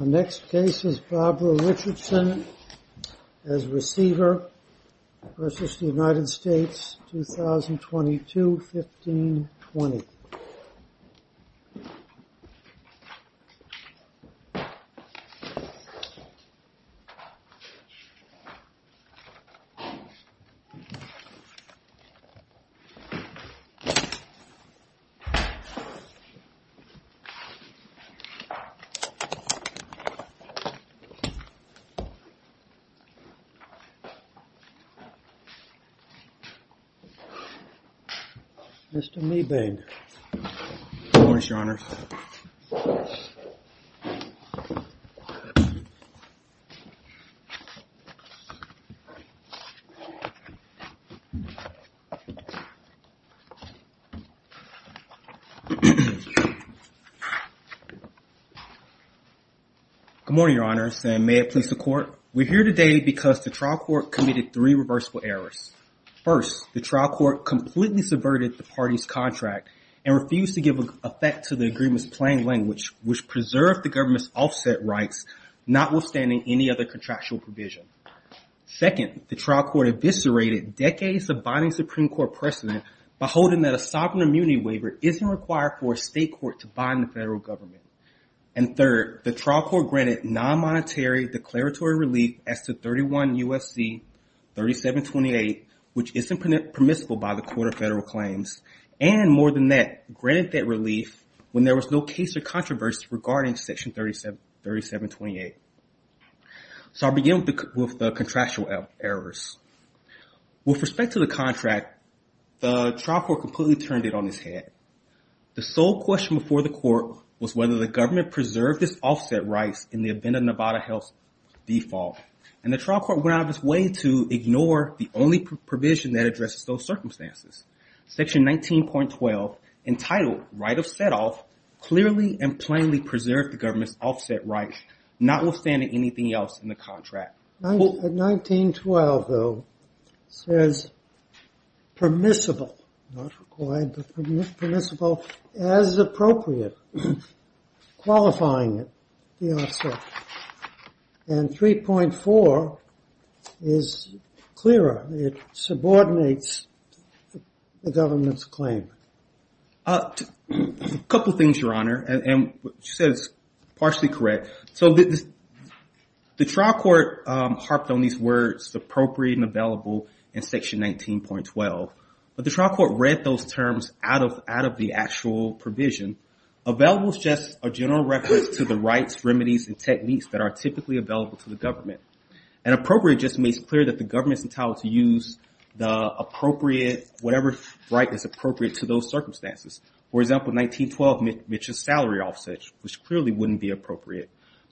Next case is Barbara Richardson as receiver versus the United States 2022-15-20. Mr. Meebeg. Good morning, Your Honor. Good morning, Your Honors, and may it please the Court. We're here today because the trial court committed three reversible errors. First, the trial court completely subverted the party's contract and refused to give effect to the agreement's plain language, which preserved the government's offset rights, notwithstanding any other contractual provision. Second, the trial court eviscerated decades of binding Supreme Court precedent by holding that a sovereign immunity waiver isn't required for a state court to bind the federal government. And third, the trial court granted non-monetary declaratory relief as to 31 U.S.C. 3728, which isn't permissible by the Court of Federal Claims, and more than that, granted that relief when there was no case or controversy regarding Section 3728. So I'll begin with the contractual errors. With respect to the contract, the trial court completely turned it on its head. The sole question before the court was whether the government preserved its offset rights in the event of Nevada Health's default, and the trial court went out of its way to ignore the only provision that addresses those circumstances. Section 19.12, entitled Right of Setoff, clearly and plainly preserved the government's offset rights, notwithstanding anything else in the contract. 19.12, though, says permissible, not required, but permissible as appropriate, qualifying it, the offset. And 3.4 is clearer. It subordinates the government's claim. A couple things, Your Honor, and what you said is partially correct. So the trial court harped on these words, appropriate and available, in Section 19.12, but the trial court read those terms out of the actual provision. Available is just a general reference to the rights, remedies, and techniques that are typically available to the government. And appropriate just makes clear that the government is entitled to use the appropriate, whatever right is appropriate to those circumstances. For example, 19.12 mentions salary offsets, which clearly wouldn't be appropriate.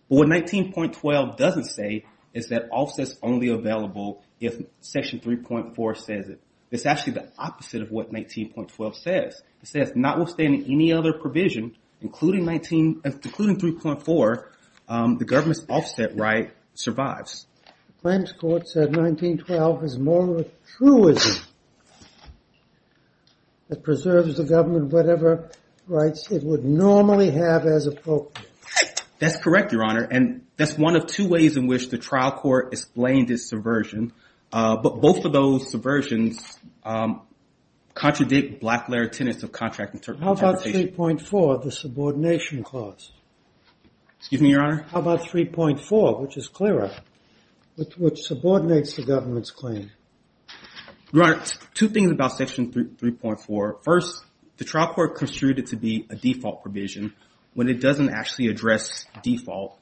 But what 19.12 doesn't say is that offset is only available if Section 3.4 says it. It's actually the opposite of what 19.12 says. It says, notwithstanding any other provision, including 3.4, the government's offset right survives. The claims court said 19.12 is more of a truism that preserves the government, whatever rights it would normally have as appropriate. That's correct, Your Honor. And that's one of two ways in which the trial court explained its subversion. But both of those subversions contradict black-layer tenets of contract interpretation. How about 3.4, the subordination clause? Excuse me, Your Honor? How about 3.4, which is clearer, which subordinates the government's claim? Your Honor, two things about Section 3.4. First, the trial court construed it to be a default provision when it doesn't actually address default.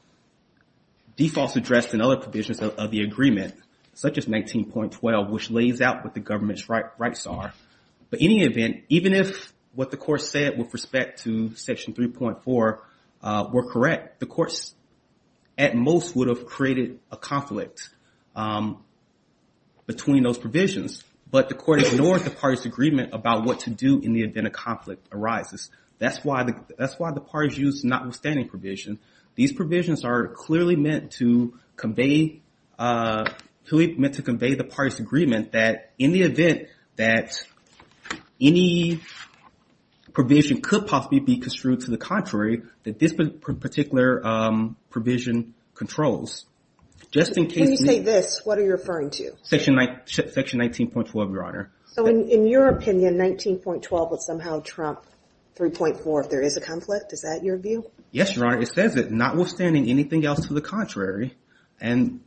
Default is addressed in other provisions of the agreement, such as 19.12, which lays out what the government's rights are. But in any event, even if what the court said with respect to Section 3.4 were correct, the courts at most would have created a conflict between those provisions. But the court ignored the parties' agreement about what to do in the event a conflict arises. That's why the parties used notwithstanding provision. These provisions are clearly meant to convey the parties' agreement that in the event that any provision could possibly be construed to the contrary, that this particular provision controls. When you say this, what are you referring to? Section 19.12, Your Honor. So in your opinion, 19.12 would somehow trump 3.4 if there is a conflict? Is that your view? Yes, Your Honor. It says that notwithstanding anything else to the contrary. And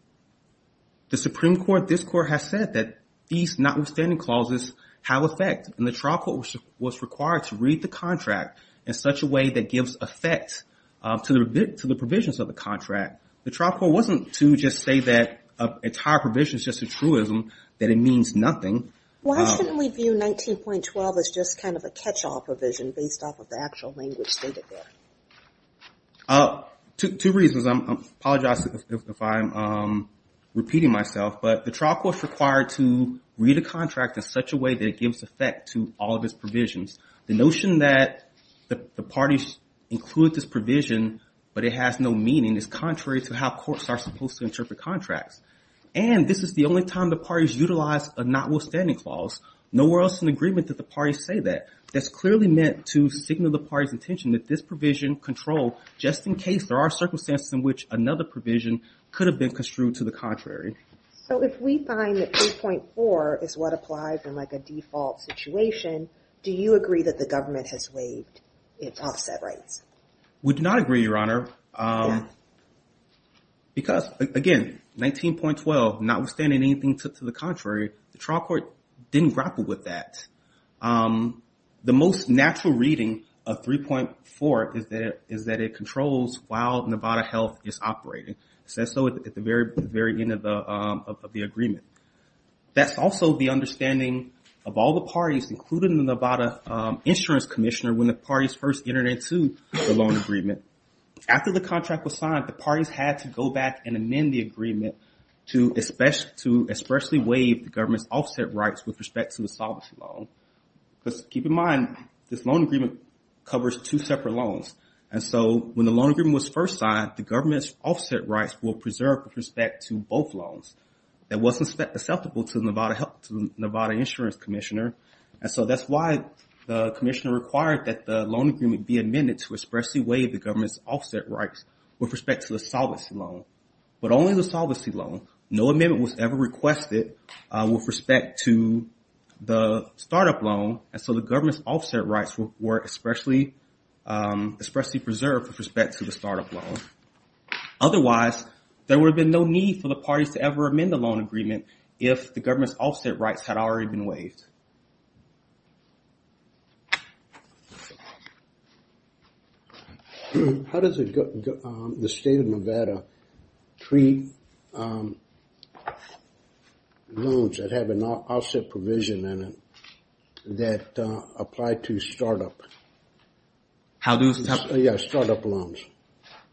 the Supreme Court, this Court, has said that these notwithstanding clauses have effect. And the trial court was required to read the contract in such a way that gives effect to the provisions of the contract. The trial court wasn't to just say that an entire provision is just a truism, that it means nothing. Why shouldn't we view 19.12 as just kind of a catch-all provision based off of the actual language stated there? Two reasons. I apologize if I'm repeating myself. But the trial court was required to read a contract in such a way that it gives effect to all of its provisions. The notion that the parties include this provision but it has no meaning is contrary to how courts are supposed to interpret contracts. And this is the only time the parties utilize a notwithstanding clause. Nowhere else in the agreement did the parties say that. That's clearly meant to signal the parties' intention that this provision controlled just in case there are circumstances in which another provision could have been construed to the contrary. So if we find that 3.4 is what applies in like a default situation, do you agree that the government has waived its offset rights? We do not agree, Your Honor. Because, again, 19.12, notwithstanding anything to the contrary, the trial court didn't grapple with that. The most natural reading of 3.4 is that it controls while Nevada Health is operating. It says so at the very end of the agreement. That's also the understanding of all the parties, including the Nevada Insurance Commissioner, when the parties first entered into the loan agreement. After the contract was signed, the parties had to go back and amend the agreement to especially waive the government's offset rights with respect to the solvency loan. Because keep in mind, this loan agreement covers two separate loans. And so when the loan agreement was first signed, the government's offset rights were preserved with respect to both loans. It wasn't acceptable to the Nevada Insurance Commissioner. And so that's why the commissioner required that the loan agreement be amended to especially waive the government's offset rights with respect to the solvency loan. But only the solvency loan. No amendment was ever requested with respect to the startup loan. And so the government's offset rights were especially preserved with respect to the startup loan. Otherwise, there would have been no need for the parties to ever amend the loan agreement if the government's offset rights had already been waived. How does the state of Nevada treat loans that have an offset provision in it that apply to startup loans?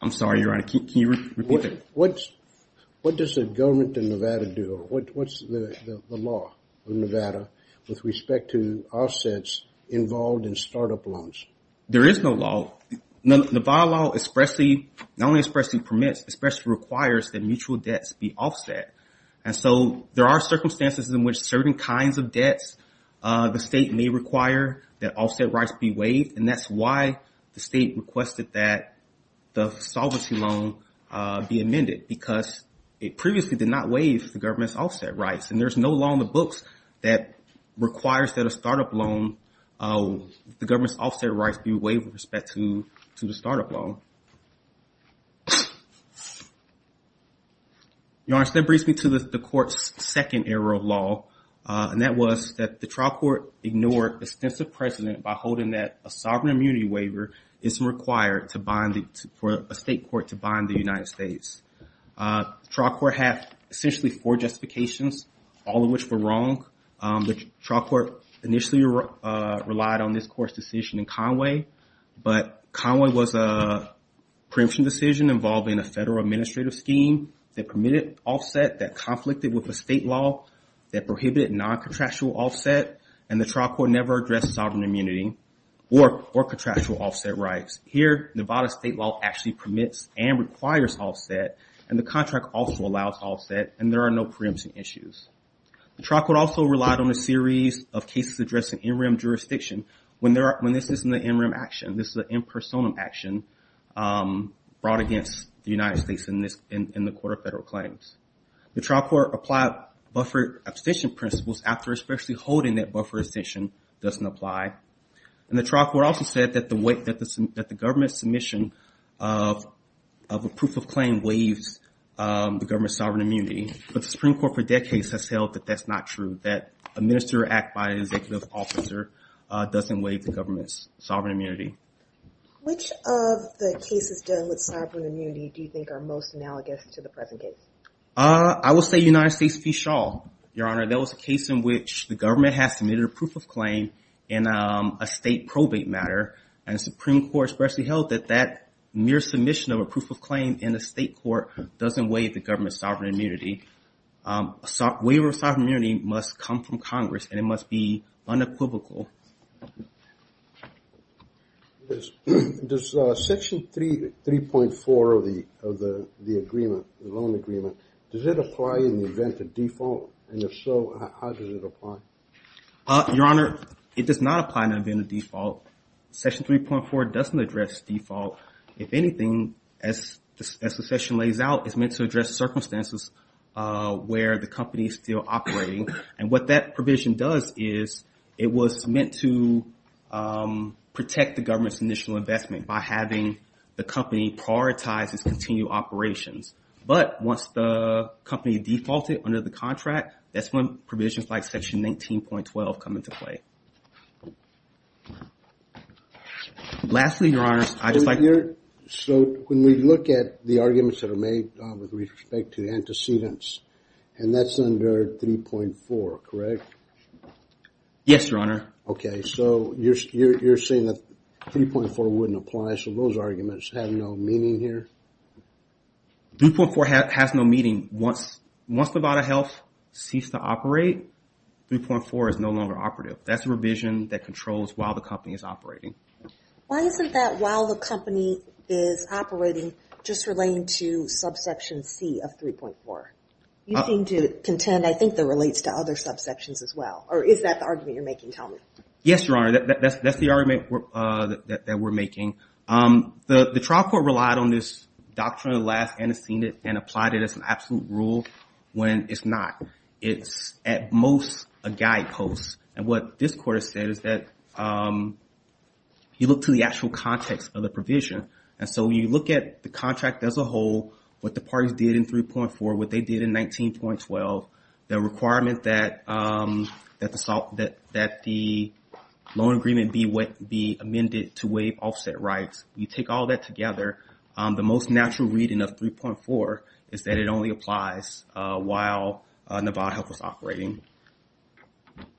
I'm sorry, Your Honor. Can you repeat that? What does the government in Nevada do? What's the law in Nevada with respect to offsets involved in startup loans? There is no law. Nevada law not only expressly permits, but especially requires that mutual debts be offset. And so there are circumstances in which certain kinds of debts the state may require that offset rights be waived. And that's why the state requested that the solvency loan be amended because it previously did not waive the government's offset rights. And there's no law in the books that requires that a startup loan, the government's offset rights be waived with respect to the startup loan. Your Honor, that brings me to the court's second error of law. And that was that the trial court ignored extensive precedent by holding that a sovereign immunity waiver isn't required for a state court to bind the United States. The trial court had essentially four justifications, all of which were wrong. The trial court initially relied on this court's decision in Conway. But Conway was a preemption decision involving a federal administrative scheme that permitted offset that conflicted with the state law that prohibited non-contractual offset. And the trial court never addressed sovereign immunity or contractual offset rights. Here, Nevada state law actually permits and requires offset. And the contract also allows offset. And there are no preemption issues. The trial court also relied on a series of cases addressing interim jurisdiction. When this isn't an interim action, this is an impersonal action brought against the United States in the court of federal claims. The trial court applied buffer abstention principles after especially holding that buffer abstention doesn't apply. And the trial court also said that the government's submission of a proof of claim waives the government's sovereign immunity. But the Supreme Court for decades has held that that's not true. That a minister act by an executive officer doesn't waive the government's sovereign immunity. Which of the cases dealing with sovereign immunity do you think are most analogous to the present case? I will say United States v. Shaw, Your Honor. That was a case in which the government has submitted a proof of claim in a state probate matter. And the Supreme Court especially held that that mere submission of a proof of claim in the state court doesn't waive the government's sovereign immunity. A waiver of sovereign immunity must come from Congress and it must be unequivocal. Does Section 3.4 of the agreement, the loan agreement, does it apply in the event of default? And if so, how does it apply? Your Honor, it does not apply in the event of default. Section 3.4 doesn't address default. If anything, as the section lays out, it's meant to address circumstances where the company is still operating. And what that provision does is it was meant to protect the government's initial investment by having the company prioritize its continued operations. But once the company defaulted under the contract, that's when provisions like Section 19.12 come into play. Lastly, Your Honor, I'd just like... So when we look at the arguments that are made with respect to antecedents, and that's under 3.4, correct? Yes, Your Honor. Okay, so you're saying that 3.4 wouldn't apply, so those arguments have no meaning here? 3.4 has no meaning. Once Nevada Health ceases to operate, 3.4 is no longer operative. That's a revision that controls while the company is operating. Why isn't that while the company is operating just relating to subsection C of 3.4? You seem to contend, I think, that it relates to other subsections as well. Or is that the argument you're making? Tell me. Yes, Your Honor, that's the argument that we're making. The trial court relied on this doctrine of the last antecedent and applied it as an absolute rule when it's not. It's at most a guidepost. And what this court has said is that you look to the actual context of the provision. And so when you look at the contract as a whole, what the parties did in 3.4, what they did in 19.12, the requirement that the loan agreement be amended to waive offset rights, you take all that together, the most natural reading of 3.4 is that it only applies while Nevada Health was operating.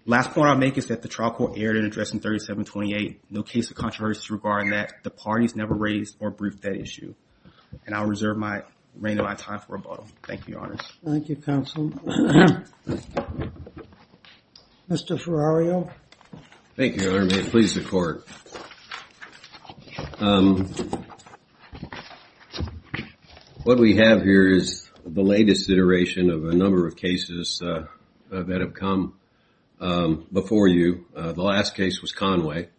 Last point I'll make is that the trial court erred in addressing 3728. No case of controversy regarding that. The parties never raised or briefed that issue. And I'll reserve my time for rebuttal. Thank you, Your Honor. Thank you, Counsel. Mr. Ferrario. Thank you, Your Honor. May it please the Court. What we have here is the latest iteration of a number of cases that have come before you. The last case was Conway.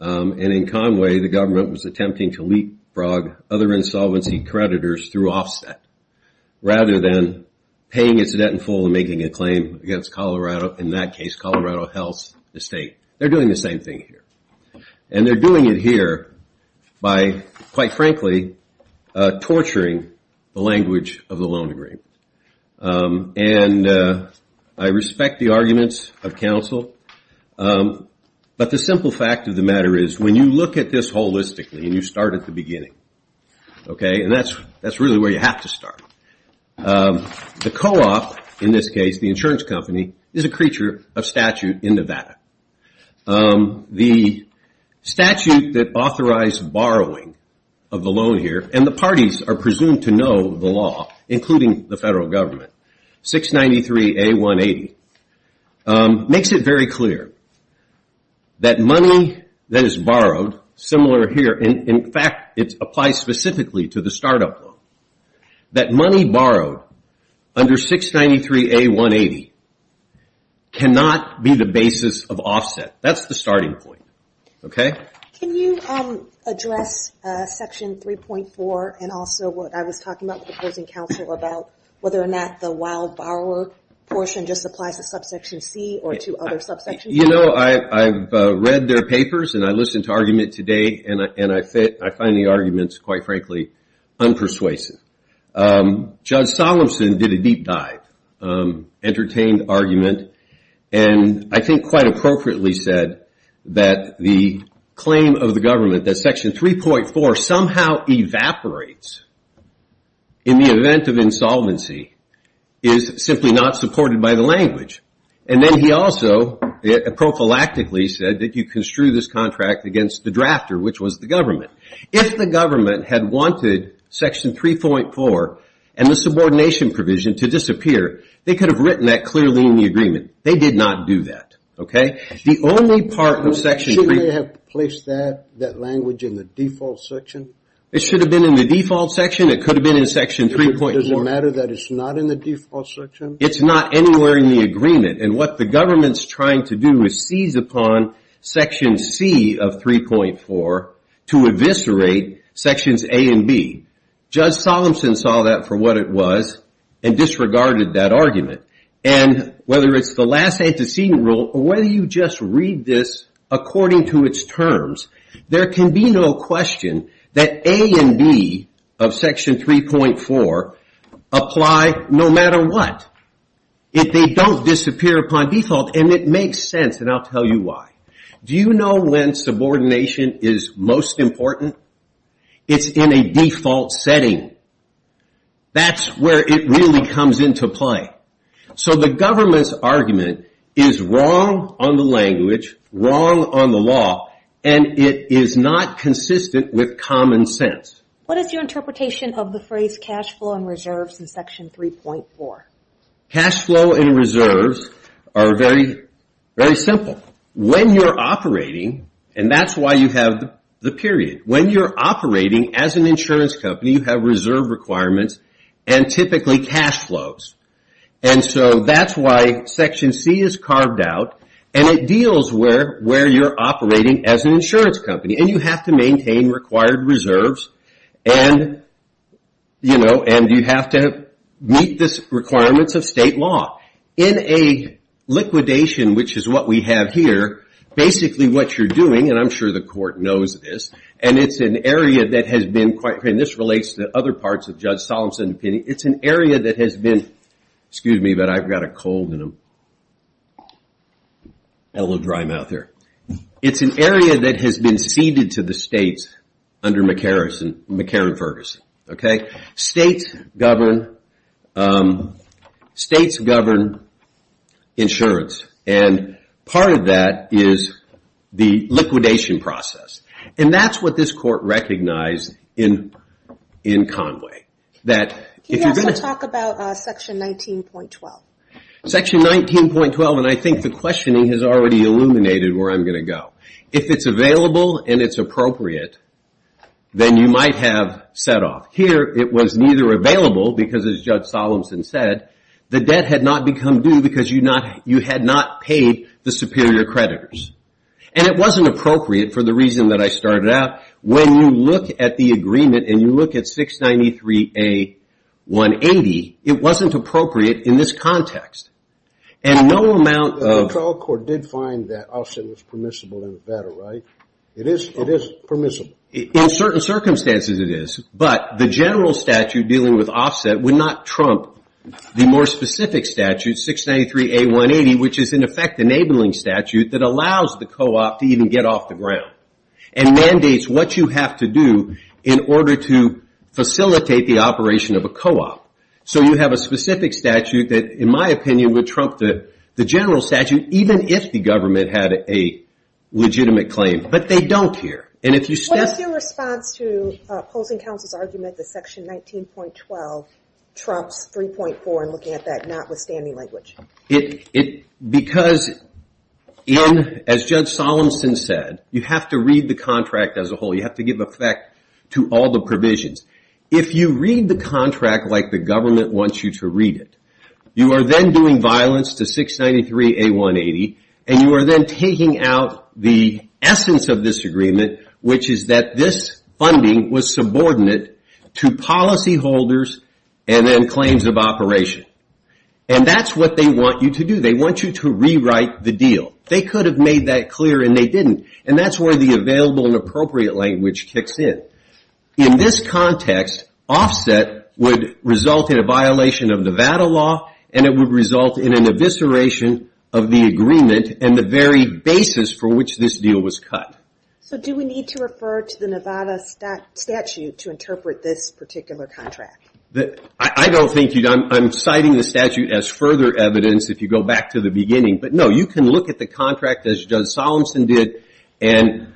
And in Conway, the government was attempting to leapfrog other insolvency creditors through offset rather than paying its debt in full and making a claim against Colorado. In that case, Colorado Health Estate. They're doing the same thing here. And they're doing it here by, quite frankly, torturing the language of the loan agreement. And I respect the arguments of counsel. But the simple fact of the matter is when you look at this holistically and you start at the beginning, okay, and that's really where you have to start. The co-op, in this case, the insurance company, is a creature of statute in Nevada. The statute that authorized borrowing of the loan here, and the parties are presumed to know the law, including the federal government, 693A180, makes it very clear that money that is borrowed, similar here, in fact, it applies specifically to the start-up loan, that money borrowed under 693A180 cannot be the basis of offset. That's the starting point. Okay? Can you address Section 3.4 and also what I was talking about with the opposing counsel about whether or not the wild borrower portion just applies to Subsection C or to other subsections? Well, you know, I've read their papers and I listened to argument today and I find the arguments, quite frankly, unpersuasive. Judge Solemson did a deep dive, entertained argument, and I think quite appropriately said that the claim of the government that Section 3.4 somehow evaporates in the event of insolvency is simply not supported by the language. And then he also prophylactically said that you construe this contract against the drafter, which was the government. If the government had wanted Section 3.4 and the subordination provision to disappear, they could have written that clearly in the agreement. They did not do that. Okay? The only part of Section 3.4. Shouldn't they have placed that language in the default section? It should have been in the default section. It could have been in Section 3.4. Does it matter that it's not in the default section? It's not anywhere in the agreement. And what the government's trying to do is seize upon Section C of 3.4 to eviscerate Sections A and B. Judge Solemson saw that for what it was and disregarded that argument. And whether it's the last antecedent rule or whether you just read this according to its terms, there can be no question that A and B of Section 3.4 apply no matter what if they don't disappear upon default. And it makes sense, and I'll tell you why. Do you know when subordination is most important? It's in a default setting. That's where it really comes into play. So the government's argument is wrong on the language, wrong on the law, and it is not consistent with common sense. What is your interpretation of the phrase cash flow and reserves in Section 3.4? Cash flow and reserves are very simple. When you're operating, and that's why you have the period, when you're operating as an insurance company, you have reserve requirements and typically cash flows. And so that's why Section C is carved out, and it deals where you're operating as an insurance company. And you have to maintain required reserves, and you have to meet the requirements of state law. In a liquidation, which is what we have here, basically what you're doing, and I'm sure the court knows this, and it's an area that has been quite, and this relates to other parts of Judge Solomon's opinion, it's an area that has been, excuse me, but I've got a cold and a little dry mouth here. It's an area that has been ceded to the states under McCarran-Ferguson. States govern insurance, and part of that is the liquidation process. And that's what this court recognized in Conway. Can you also talk about Section 19.12? Section 19.12, and I think the questioning has already illuminated where I'm going to go. If it's available and it's appropriate, then you might have set off. Here it was neither available because, as Judge Solomon said, the debt had not become due because you had not paid the superior creditors. And it wasn't appropriate for the reason that I started out. When you look at the agreement and you look at 693-A-180, it wasn't appropriate in this context. And no amount of- The trial court did find that offset was permissible in Nevada, right? It is permissible. In certain circumstances it is, but the general statute dealing with offset would not trump the more specific statute, 693-A-180, which is in effect the enabling statute that allows the co-op to even get off the ground and mandates what you have to do in order to facilitate the operation of a co-op. So you have a specific statute that, in my opinion, would trump the general statute, even if the government had a legitimate claim, but they don't here. What is your response to opposing counsel's argument that Section 19.12 trumps 3.4 and looking at that notwithstanding language? Because, as Judge Solomon said, you have to read the contract as a whole. You have to give effect to all the provisions. If you read the contract like the government wants you to read it, you are then doing violence to 693-A-180, and you are then taking out the essence of this agreement, which is that this funding was subordinate to policyholders and then claims of operation. And that's what they want you to do. They want you to rewrite the deal. They could have made that clear and they didn't, and that's where the available and appropriate language kicks in. In this context, offset would result in a violation of Nevada law, and it would result in an evisceration of the agreement and the very basis for which this deal was cut. So do we need to refer to the Nevada statute to interpret this particular contract? I don't think you do. I'm citing the statute as further evidence if you go back to the beginning. But, no, you can look at the contract as Judge Solomon did, and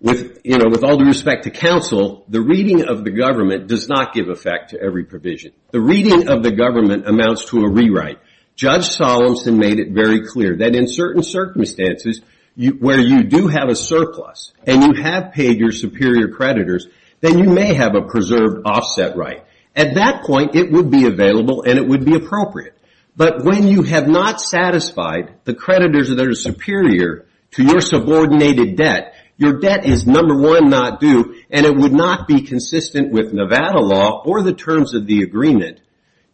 with all due respect to counsel, the reading of the government does not give effect to every provision. The reading of the government amounts to a rewrite. Judge Solomon made it very clear that in certain circumstances where you do have a surplus and you have paid your superior creditors, then you may have a preserved offset right. At that point, it would be available and it would be appropriate. But when you have not satisfied the creditors that are superior to your subordinated debt, your debt is, number one, not due, and it would not be consistent with Nevada law or the terms of the agreement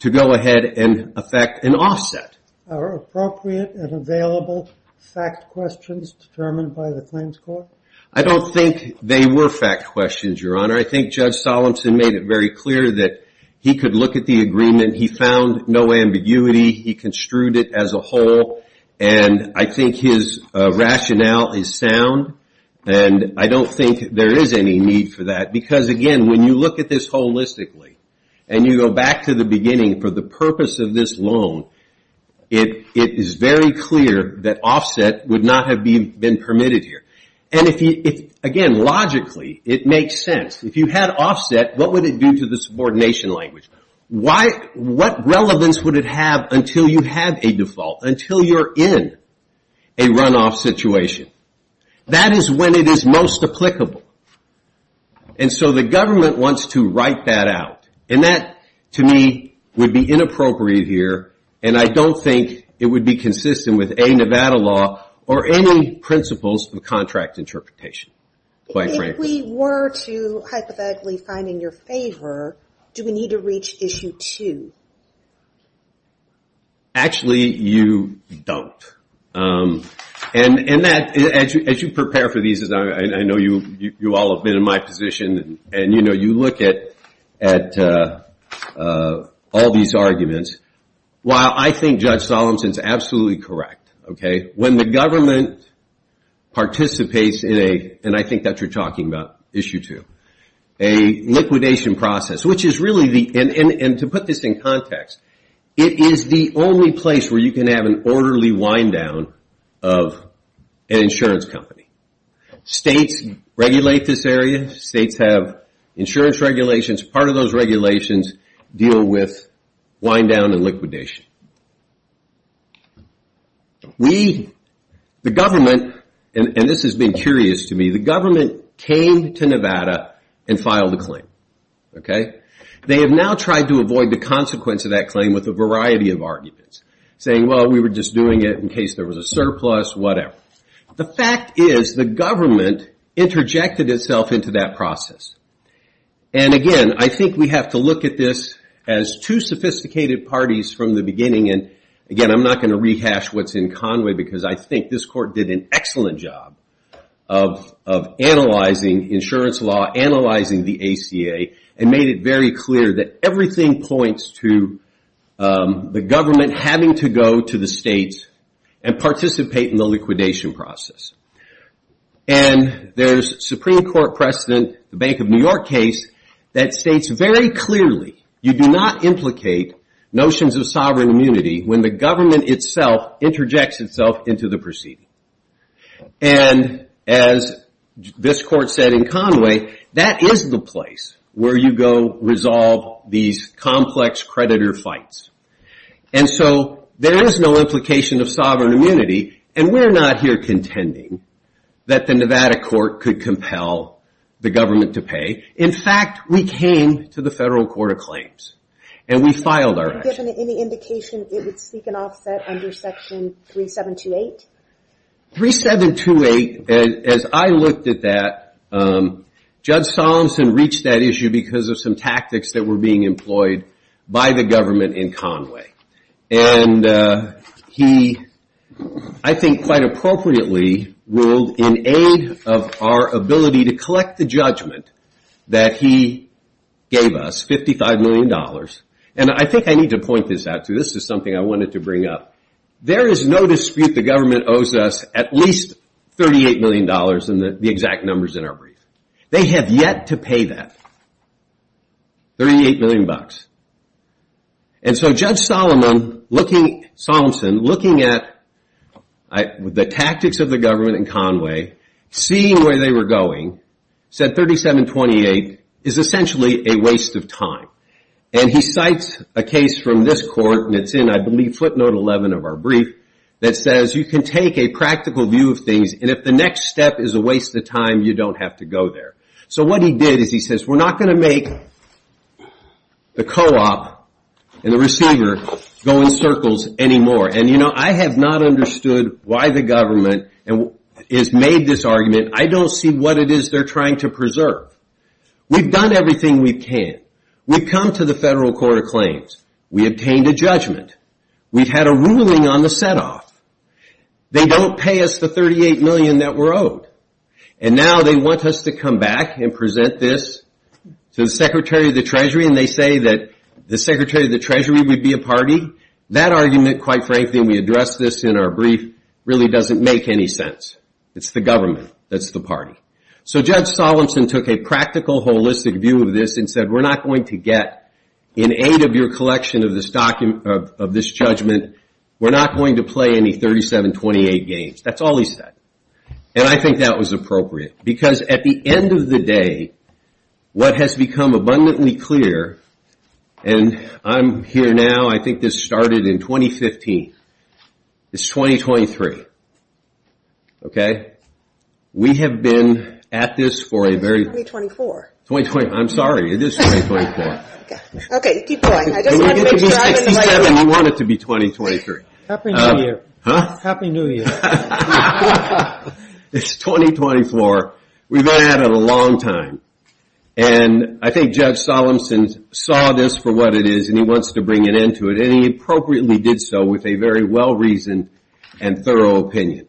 to go ahead and effect an offset. Are appropriate and available fact questions determined by the claims court? I don't think they were fact questions, Your Honor. I think Judge Solomon made it very clear that he could look at the agreement. He found no ambiguity. He construed it as a whole. I think his rationale is sound. I don't think there is any need for that because, again, when you look at this holistically and you go back to the beginning for the purpose of this loan, it is very clear that offset would not have been permitted here. Again, logically, it makes sense. If you had offset, what would it do to the subordination language? What relevance would it have until you have a default, until you're in a runoff situation? That is when it is most applicable. And so the government wants to write that out. And that, to me, would be inappropriate here, and I don't think it would be consistent with any Nevada law or any principles of contract interpretation, quite frankly. If we were to hypothetically find in your favor, do we need to reach issue two? Actually, you don't. And as you prepare for these, I know you all have been in my position, and you look at all these arguments. While I think Judge Solomon is absolutely correct, when the government participates in a, and I think that you're talking about issue two, a liquidation process, which is really the, and to put this in context, it is the only place where you can have an orderly wind down of an insurance company. States regulate this area. States have insurance regulations. Part of those regulations deal with wind down and liquidation. We, the government, and this has been curious to me, the government came to Nevada and filed a claim. They have now tried to avoid the consequence of that claim with a variety of arguments, saying, well, we were just doing it in case there was a surplus, whatever. The fact is, the government interjected itself into that process. And again, I think we have to look at this as two sophisticated parties from the beginning, and again, I'm not going to rehash what's in Conway, because I think this court did an excellent job of analyzing insurance law, analyzing the ACA, and made it very clear that everything points to the government having to go to the states and participate in the liquidation process. And there's Supreme Court precedent, the Bank of New York case, that states very clearly you do not implicate notions of sovereign immunity when the government itself interjects itself into the proceeding. And as this court said in Conway, that is the place where you go resolve these complex creditor fights. And so there is no implication of sovereign immunity, and we're not here contending that the Nevada court could compel the government to pay. In fact, we came to the Federal Court of Claims, and we filed our action. Given any indication it would seek an offset under Section 3728? 3728, as I looked at that, Judge Solemson reached that issue because of some tactics that were being employed by the government in Conway. And he, I think quite appropriately, ruled in aid of our ability to collect the judgment that he gave us, $55 million. And I think I need to point this out, too. This is something I wanted to bring up. There is no dispute the government owes us at least $38 million in the exact numbers in our brief. They have yet to pay that, $38 million. And so Judge Solemson, looking at the tactics of the government in Conway, seeing where they were going, said 3728 is essentially a waste of time. And he cites a case from this court, and it's in, I believe, footnote 11 of our brief, that says you can take a practical view of things, and if the next step is a waste of time, you don't have to go there. So what he did is he says we're not going to make the co-op and the receiver go in circles anymore. And, you know, I have not understood why the government has made this argument. I don't see what it is they're trying to preserve. We've done everything we can. We've come to the Federal Court of Claims. We obtained a judgment. We've had a ruling on the set-off. They don't pay us the $38 million that we're owed. And now they want us to come back and present this to the Secretary of the Treasury, and they say that the Secretary of the Treasury would be a party. That argument, quite frankly, and we addressed this in our brief, really doesn't make any sense. It's the government that's the party. So Judge Solemson took a practical, holistic view of this and said we're not going to get, in aid of your collection of this judgment, we're not going to play any 3728 games. That's all he said. And I think that was appropriate because at the end of the day, what has become abundantly clear, and I'm here now, I think this started in 2015. It's 2023. Okay? We have been at this for a very long time. It's 2024. I'm sorry. It is 2024. Okay, keep going. I just wanted to make sure I was in line. We want it to be 2023. Happy New Year. Huh? It's 2024. We've been at it a long time. And I think Judge Solemson saw this for what it is, and he wants to bring an end to it, and he appropriately did so with a very well-reasoned and thorough opinion.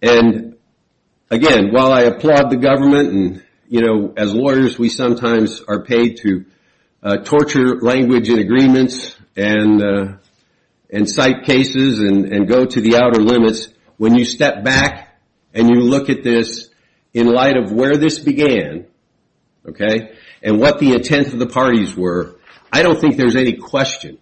And, again, while I applaud the government and, you know, as lawyers, we sometimes are paid to torture language in agreements and cite cases and go to the outer limits, when you step back and you look at this in light of where this began, okay, and what the intent of the parties were, I don't think there's any question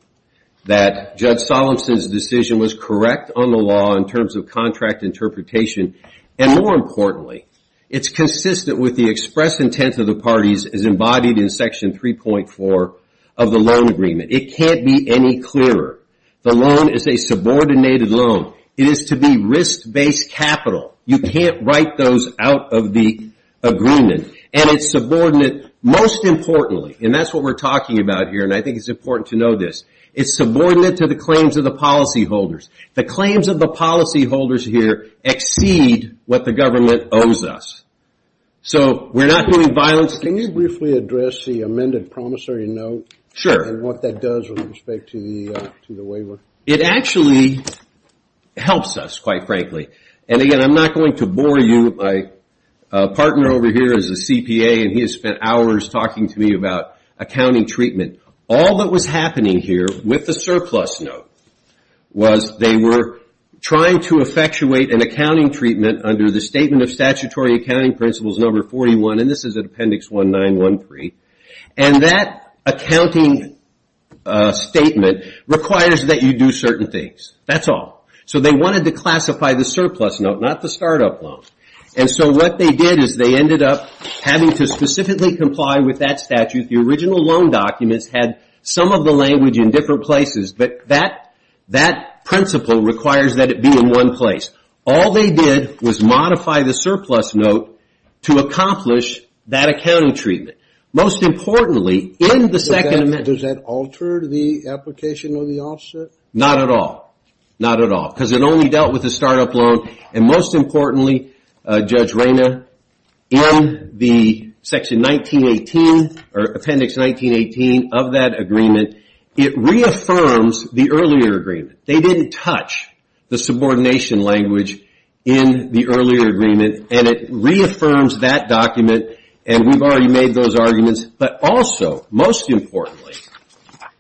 that Judge Solemson's decision was correct on the law in terms of contract interpretation. And, more importantly, it's consistent with the express intent of the parties as embodied in Section 3.4 of the loan agreement. It can't be any clearer. The loan is a subordinated loan. It is to be risk-based capital. You can't write those out of the agreement. And it's subordinate, most importantly, and that's what we're talking about here, and I think it's important to know this, it's subordinate to the claims of the policyholders. The claims of the policyholders here exceed what the government owes us. So we're not doing violence. Can you briefly address the amended promissory note? Sure. And what that does with respect to the waiver? It actually helps us, quite frankly. And, again, I'm not going to bore you. My partner over here is a CPA, and he has spent hours talking to me about accounting treatment. All that was happening here with the surplus note was they were trying to effectuate an accounting treatment under the Statement of Statutory Accounting Principles No. 41, and this is at Appendix 1913. And that accounting statement requires that you do certain things. That's all. So they wanted to classify the surplus note, not the startup loan. And so what they did is they ended up having to specifically comply with that statute. The original loan documents had some of the language in different places, but that principle requires that it be in one place. All they did was modify the surplus note to accomplish that accounting treatment. Most importantly, in the second amendment. Does that alter the application or the offset? Not at all. Not at all, because it only dealt with the startup loan. And most importantly, Judge Rayner, in the Section 1918 or Appendix 1918 of that agreement, it reaffirms the earlier agreement. They didn't touch the subordination language in the earlier agreement, and it reaffirms that document, and we've already made those arguments. But also, most importantly,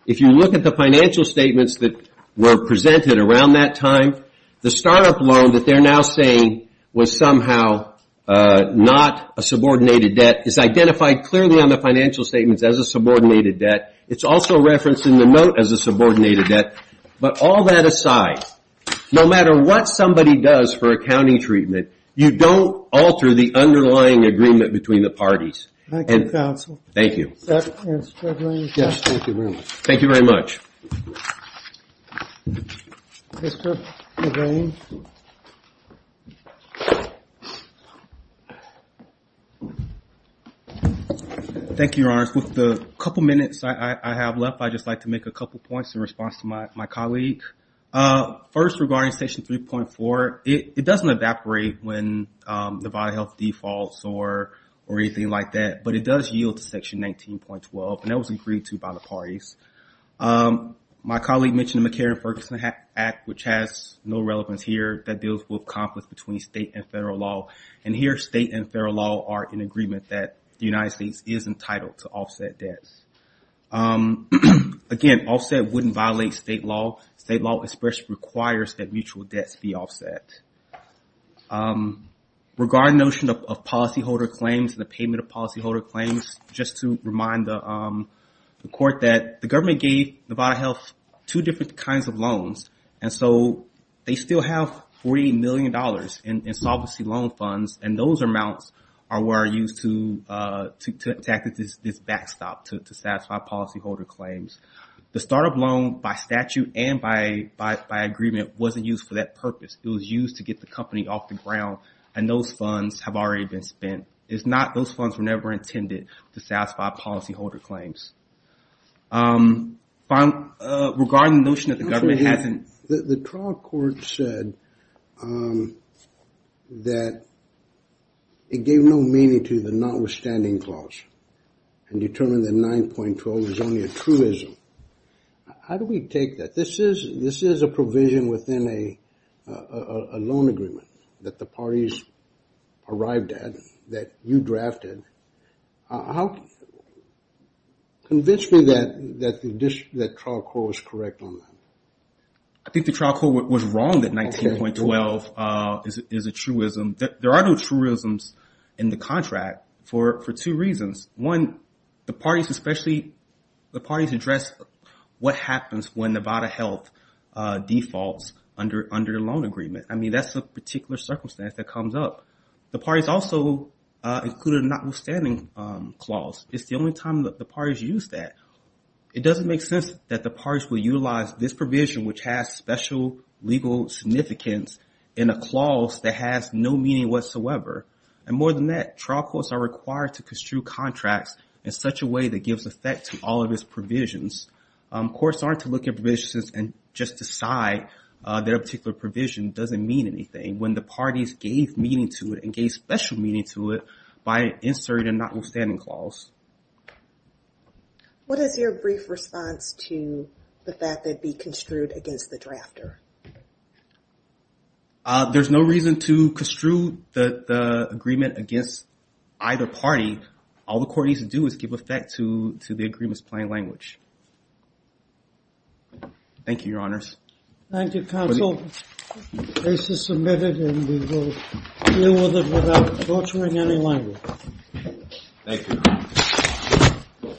if you look at the financial statements that were presented around that time, the startup loan that they're now saying was somehow not a subordinated debt is identified clearly on the financial statements as a subordinated debt. It's also referenced in the note as a subordinated debt. But all that aside, no matter what somebody does for accounting treatment, you don't alter the underlying agreement between the parties. Thank you, counsel. Thank you. Thank you very much. Thank you, Your Honors. With the couple minutes I have left, I'd just like to make a couple points in response to my colleague. First, regarding Section 3.4, it doesn't evaporate when the vital health defaults or anything like that, but it does yield to Section 19.12, and that was agreed to by the parties. My colleague mentioned the McCarran-Ferguson Act, which has no relevance here. That deals with conflict between state and federal law. And here, state and federal law are in agreement that the United States is entitled to offset debts. Again, offset wouldn't violate state law. State law requires that mutual debts be offset. Regarding the notion of policyholder claims and the payment of policyholder claims, just to remind the Court that the government gave the vital health two different kinds of loans, and so they still have $40 million in solvency loan funds, and those amounts are what are used to tackle this backstop to satisfy policyholder claims. The startup loan by statute and by agreement wasn't used for that purpose. It was used to get the company off the ground, and those funds have already been spent. Those funds were never intended to satisfy policyholder claims. Regarding the notion that the government hasn't- The trial court said that it gave no meaning to the notwithstanding clause and determined that 9.12 was only a truism. How do we take that? This is a provision within a loan agreement that the parties arrived at that you drafted. Convince me that the trial court was correct on that. I think the trial court was wrong that 19.12 is a truism. There are no truisms in the contract for two reasons. One, the parties address what happens when Nevada Health defaults under the loan agreement. I mean, that's a particular circumstance that comes up. The parties also included a notwithstanding clause. It's the only time that the parties use that. It doesn't make sense that the parties will utilize this provision, which has special legal significance, in a clause that has no meaning whatsoever. And more than that, trial courts are required to construe contracts in such a way that gives effect to all of its provisions. Courts aren't to look at provisions and just decide that a particular provision doesn't mean anything when the parties gave meaning to it and gave special meaning to it by inserting a notwithstanding clause. What is your brief response to the fact that it be construed against the drafter? There's no reason to construe the agreement against either party. All the court needs to do is give effect to the agreement's plain language. Thank you, Your Honors. Thank you, Counsel. The case is submitted, and we will deal with it without altering any language. Thank you.